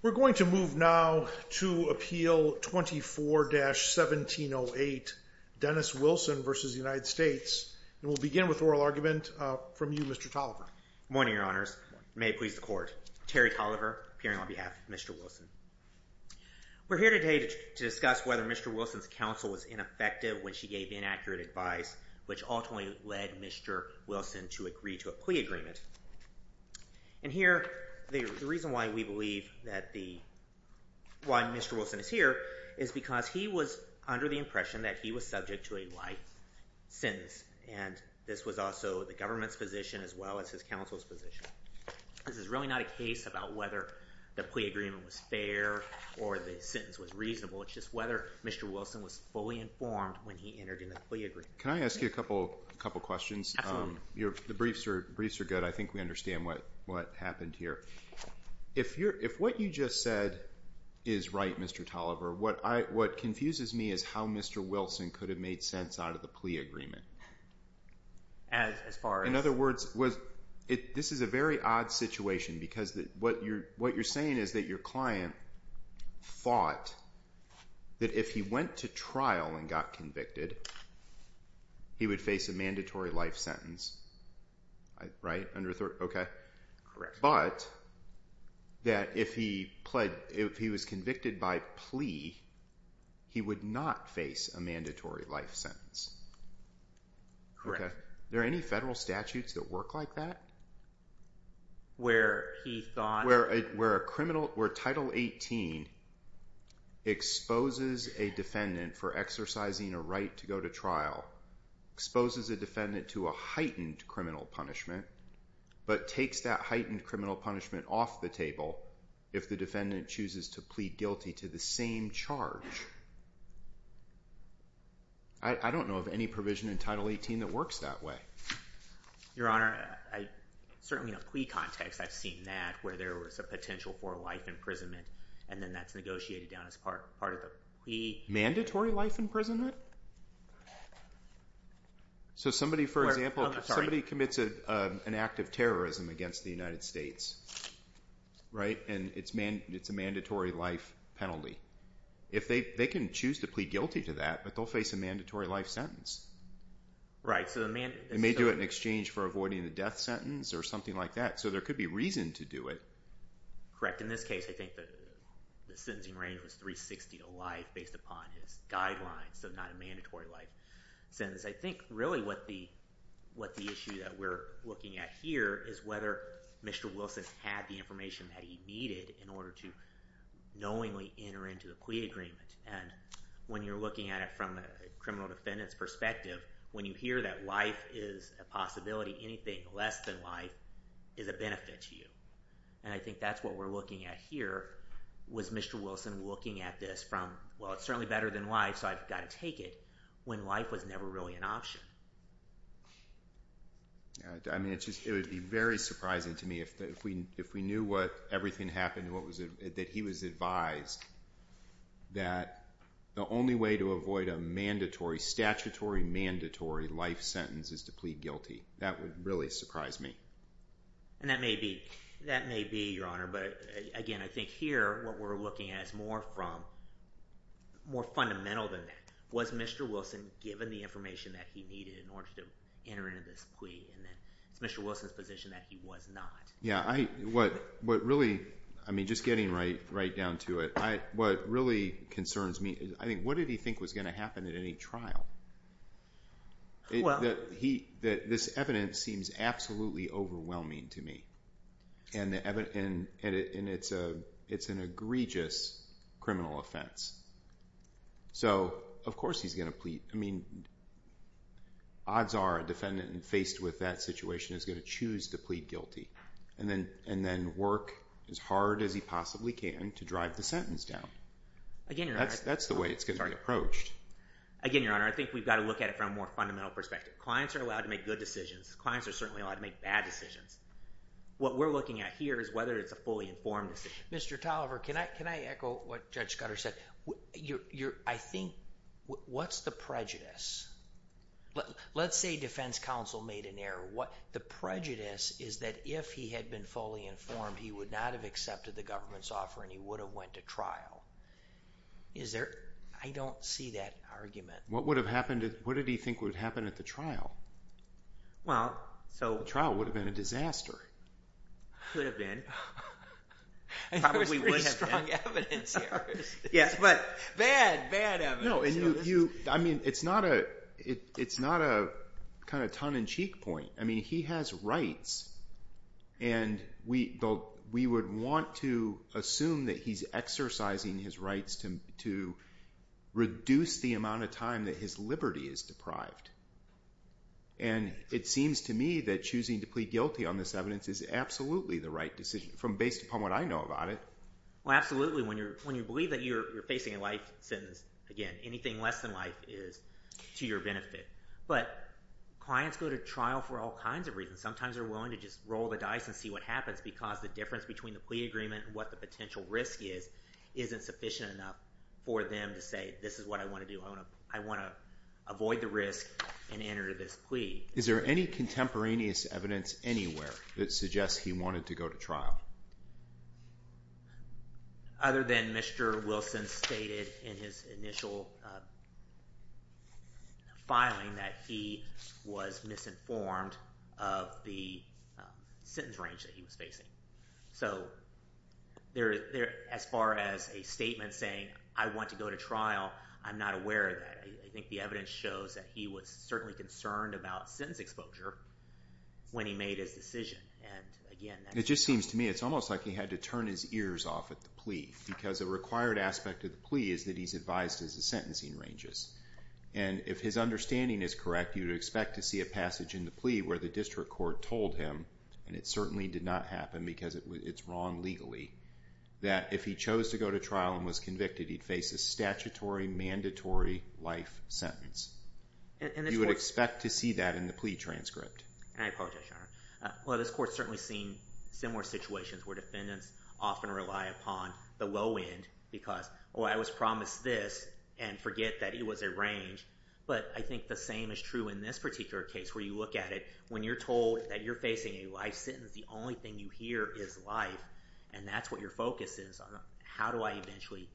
We're going to move now to Appeal 24-1708, Dennis Wilson v. United States, and we'll begin with oral argument from you, Mr. Tolliver. Good morning, Your Honors. May it please the Court. Terry Tolliver, appearing on behalf of Mr. Wilson. We're here today to discuss whether Mr. Wilson's counsel was ineffective when she gave inaccurate advice, which ultimately led Mr. Wilson to agree to a plea agreement. And here, the reason why we believe that the—why Mr. Wilson is here is because he was under the impression that he was subject to a life sentence, and this was also the government's position as well as his counsel's position. This is really not a case about whether the plea agreement was fair or the sentence was reasonable. It's just whether Mr. Wilson was fully informed when he entered into the plea agreement. Can I ask you a couple questions? The briefs are good. I think we understand what happened here. If what you just said is right, Mr. Tolliver, what confuses me is how Mr. Wilson could have made sense out of the plea agreement. As far as— In other words, this is a very odd situation because what you're saying is that your client thought that if he went to trial and got convicted, he would face a mandatory life sentence, right? Correct. But that if he was convicted by plea, he would not face a mandatory life sentence. Correct. Okay. Are there any federal statutes that work like that? Where he thought— Where Title 18 exposes a defendant for exercising a right to go to trial, exposes a defendant to a heightened criminal punishment, but takes that heightened criminal punishment off the table if the defendant chooses to plead guilty to the same charge. I don't know of any provision in Title 18 that works that way. Your Honor, certainly in a plea context, I've seen that, where there was a potential for life imprisonment, and then that's negotiated down as part of the plea. Mandatory life imprisonment? So somebody, for example, if somebody commits an act of terrorism against the United States, right, and it's a mandatory life penalty. If they can choose to plead guilty to that, but they'll face a mandatory life sentence. They may do it in exchange for avoiding the death sentence or something like that. So there could be reason to do it. Correct. In this case, I think the sentencing range was 360 to life based upon his guidelines, so not a mandatory life sentence. I think really what the issue that we're looking at here is whether Mr. Wilson had the information that he needed in order to knowingly enter into a plea agreement. And when you're looking at it from a criminal defendant's perspective, when you hear that life is a possibility, anything less than life is a benefit to you. And I think that's what we're looking at here, was Mr. Wilson looking at this from, well, it's certainly better than life, so I've got to take it, when life was never really an option. I mean, it would be very surprising to me if we knew what everything happened, that he was advised that the only way to avoid a mandatory, statutory mandatory life sentence is to plead guilty. That would really surprise me. And that may be, Your Honor, but again, I think here what we're looking at is more from, more fundamental than that. Was Mr. Wilson given the information that he needed in order to enter into this plea, and then it's Mr. Wilson's position that he was not. Yeah, what really, I mean, just getting right down to it, what really concerns me is, I think, what did he think was going to happen at any trial? That this evidence seems absolutely overwhelming to me, and it's an egregious criminal offense. So, of course he's going to plead, I mean, odds are a defendant faced with that situation is going to choose to plead guilty, and then work as hard as he possibly can to drive the sentence down. That's the way it's going to be approached. Again, Your Honor, I think we've got to look at it from a more fundamental perspective. Clients are allowed to make good decisions. Clients are certainly allowed to make bad decisions. What we're looking at here is whether it's a fully informed decision. Mr. Tolliver, can I echo what Judge Scudder said? I think, what's the prejudice? Let's say defense counsel made an error. The prejudice is that if he had been fully informed, he would not have accepted the government's offer, and he would have went to trial. I don't see that argument. What did he think would have happened at the trial? Well, so… The trial would have been a disaster. Could have been. Probably would have been. There's pretty strong evidence here. Yes, but bad, bad evidence. I mean, it's not a kind of tongue-in-cheek point. I mean, he has rights, and we would want to assume that he's exercising his rights to reduce the amount of time that his liberty is deprived. And it seems to me that choosing to plead guilty on this evidence is absolutely the right decision based upon what I know about it. Well, absolutely. When you believe that you're facing a life sentence, again, anything less than life is to your benefit. But clients go to trial for all kinds of reasons. Sometimes they're willing to just roll the dice and see what happens because the difference between the plea agreement and what the potential risk is isn't sufficient enough for them to say, this is what I want to do. I want to avoid the risk and enter this plea. Is there any contemporaneous evidence anywhere that suggests he wanted to go to trial? Other than Mr. Wilson stated in his initial filing that he was misinformed of the sentence range that he was facing. So as far as a statement saying, I want to go to trial, I'm not aware of that. I think the evidence shows that he was certainly concerned about sentence exposure when he made his decision. It just seems to me it's almost like he had to turn his ears off at the plea because a required aspect of the plea is that he's advised as the sentencing ranges. And if his understanding is correct, you'd expect to see a passage in the plea where the district court told him, and it certainly did not happen because it's wrong legally, that if he chose to go to trial and was convicted, he'd face a statutory, mandatory life sentence. You would expect to see that in the plea transcript. And I apologize, Your Honor. Well, this court's certainly seen similar situations where defendants often rely upon the low end because, oh, I was promised this and forget that it was a range. But I think the same is true in this particular case where you look at it. When you're told that you're facing a life sentence, the only thing you hear is life, and that's what your focus is on. How do I eventually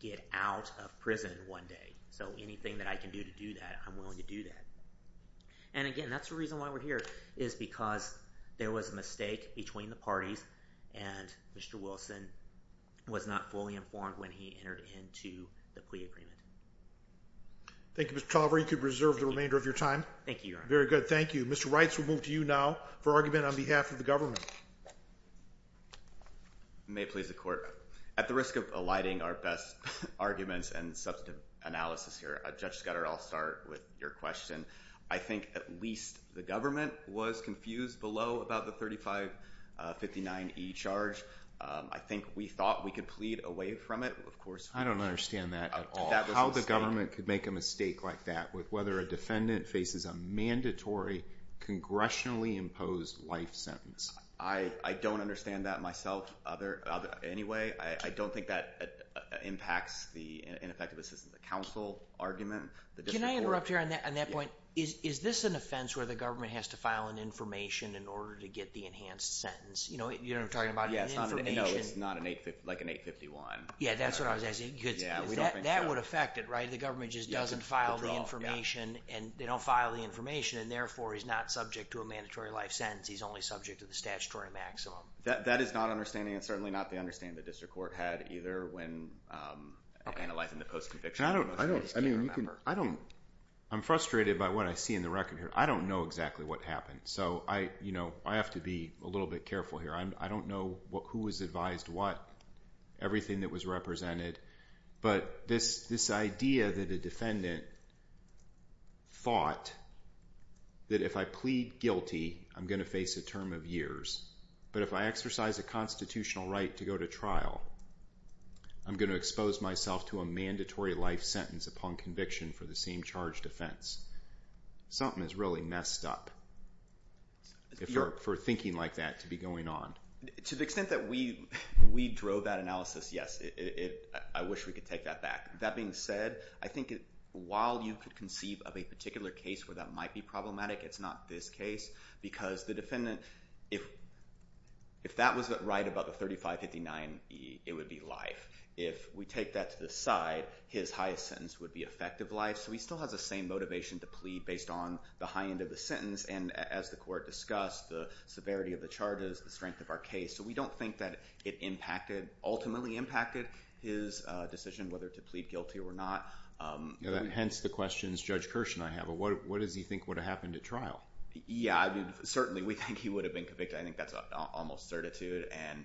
get out of prison one day? So anything that I can do to do that, I'm willing to do that. And again, that's the reason why we're here is because there was a mistake between the parties, and Mr. Wilson was not fully informed when he entered into the plea agreement. Thank you, Mr. Toliver. You can reserve the remainder of your time. Thank you, Your Honor. Very good. Thank you. Mr. Reitz, we'll move to you now for argument on behalf of the government. You may please the court. At the risk of alighting our best arguments and substantive analysis here, Judge Scudder, I'll start with your question. I think at least the government was confused below about the 3559E charge. I think we thought we could plead away from it. Of course, we didn't. I don't understand that at all. That was a mistake. How the government could make a mistake like that with whether a defendant faces a mandatory, congressionally imposed life sentence. I don't understand that myself anyway. I don't think that impacts the ineffective assistance of counsel argument. Can I interrupt here on that point? Is this an offense where the government has to file an information in order to get the enhanced sentence? You know what I'm talking about? It's not like an 851. Yeah, that's what I was asking. That would affect it, right? The government just doesn't file the information, and they don't file the information, and therefore he's not subject to a mandatory life sentence. He's only subject to the statutory maximum. That is not understanding, and certainly not the understanding the district court had either in the post-conviction. I'm frustrated by what I see in the record here. I don't know exactly what happened, so I have to be a little bit careful here. I don't know who was advised what, everything that was represented, but this idea that a defendant thought that if I plead guilty, I'm going to face a term of years, but if I exercise a constitutional right to go to trial, I'm going to expose myself to a mandatory life sentence upon conviction for the same charged offense. Something is really messed up for thinking like that to be going on. To the extent that we drove that analysis, yes, I wish we could take that back. That being said, I think while you could conceive of a particular case where that might be problematic, it's not this case, because the defendant, if that was right about the 3559, it would be life. If we take that to the side, his highest sentence would be effective life, so he still has the same motivation to plead based on the high end of the sentence, and as the court discussed, the severity of the charges, the strength of our case, so we don't think that it ultimately impacted his decision whether to plead guilty or not. Hence the questions Judge Kirsch and I have. What does he think would have happened at trial? Yeah, certainly we think he would have been convicted. I think that's almost certitude, and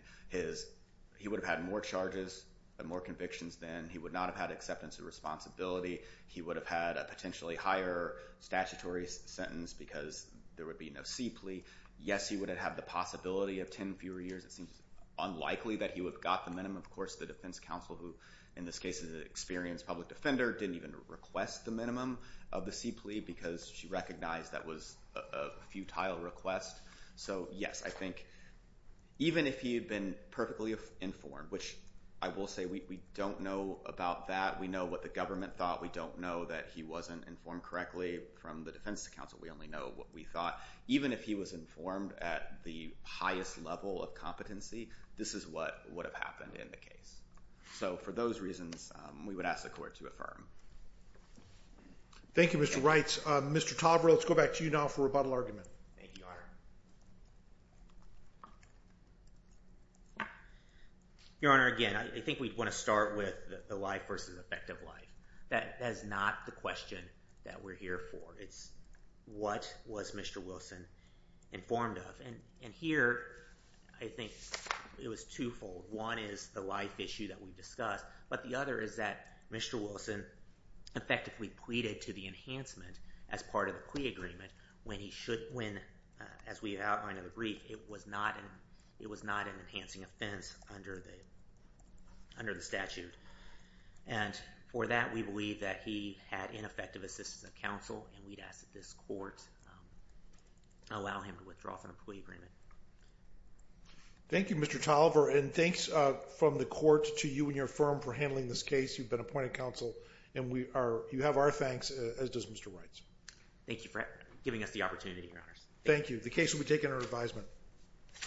he would have had more charges and more convictions then. He would not have had acceptance of responsibility. He would have had a potentially higher statutory sentence because there would be no C plea. Yes, he would have had the possibility of 10 fewer years. It seems unlikely that he would have got the minimum. Of course, the defense counsel, who in this case is an experienced public defender, didn't even request the minimum of the C plea because she recognized that was a futile request. So yes, I think even if he had been perfectly informed, which I will say we don't know about that. We know what the government thought. We don't know that he wasn't informed correctly from the defense counsel. We only know what we thought. Even if he was informed at the highest level of competency, this is what would have happened in the case. So for those reasons, we would ask the court to affirm. Thank you, Mr. Reitz. Mr. Tovre, let's go back to you now for rebuttal argument. Thank you, Your Honor. Your Honor, again, I think we'd want to start with the life versus effective life. That is not the question that we're here for. It's what was Mr. Wilson informed of? And here, I think it was twofold. One is the life issue that we discussed, but the other is that Mr. Wilson effectively pleaded to the enhancement as part of the plea agreement when, as we outlined in the brief, it was not an enhancing offense under the statute. And for that, we believe that he had ineffective assistance of counsel, and we'd ask that this court allow him to withdraw from the plea agreement. Thank you, Mr. Tovre, and thanks from the court to you and your firm for handling this case. You've been appointed counsel, and you have our thanks, as does Mr. Reitz. Thank you for giving us the opportunity, Your Honors. Thank you. The case will be taken under advisement.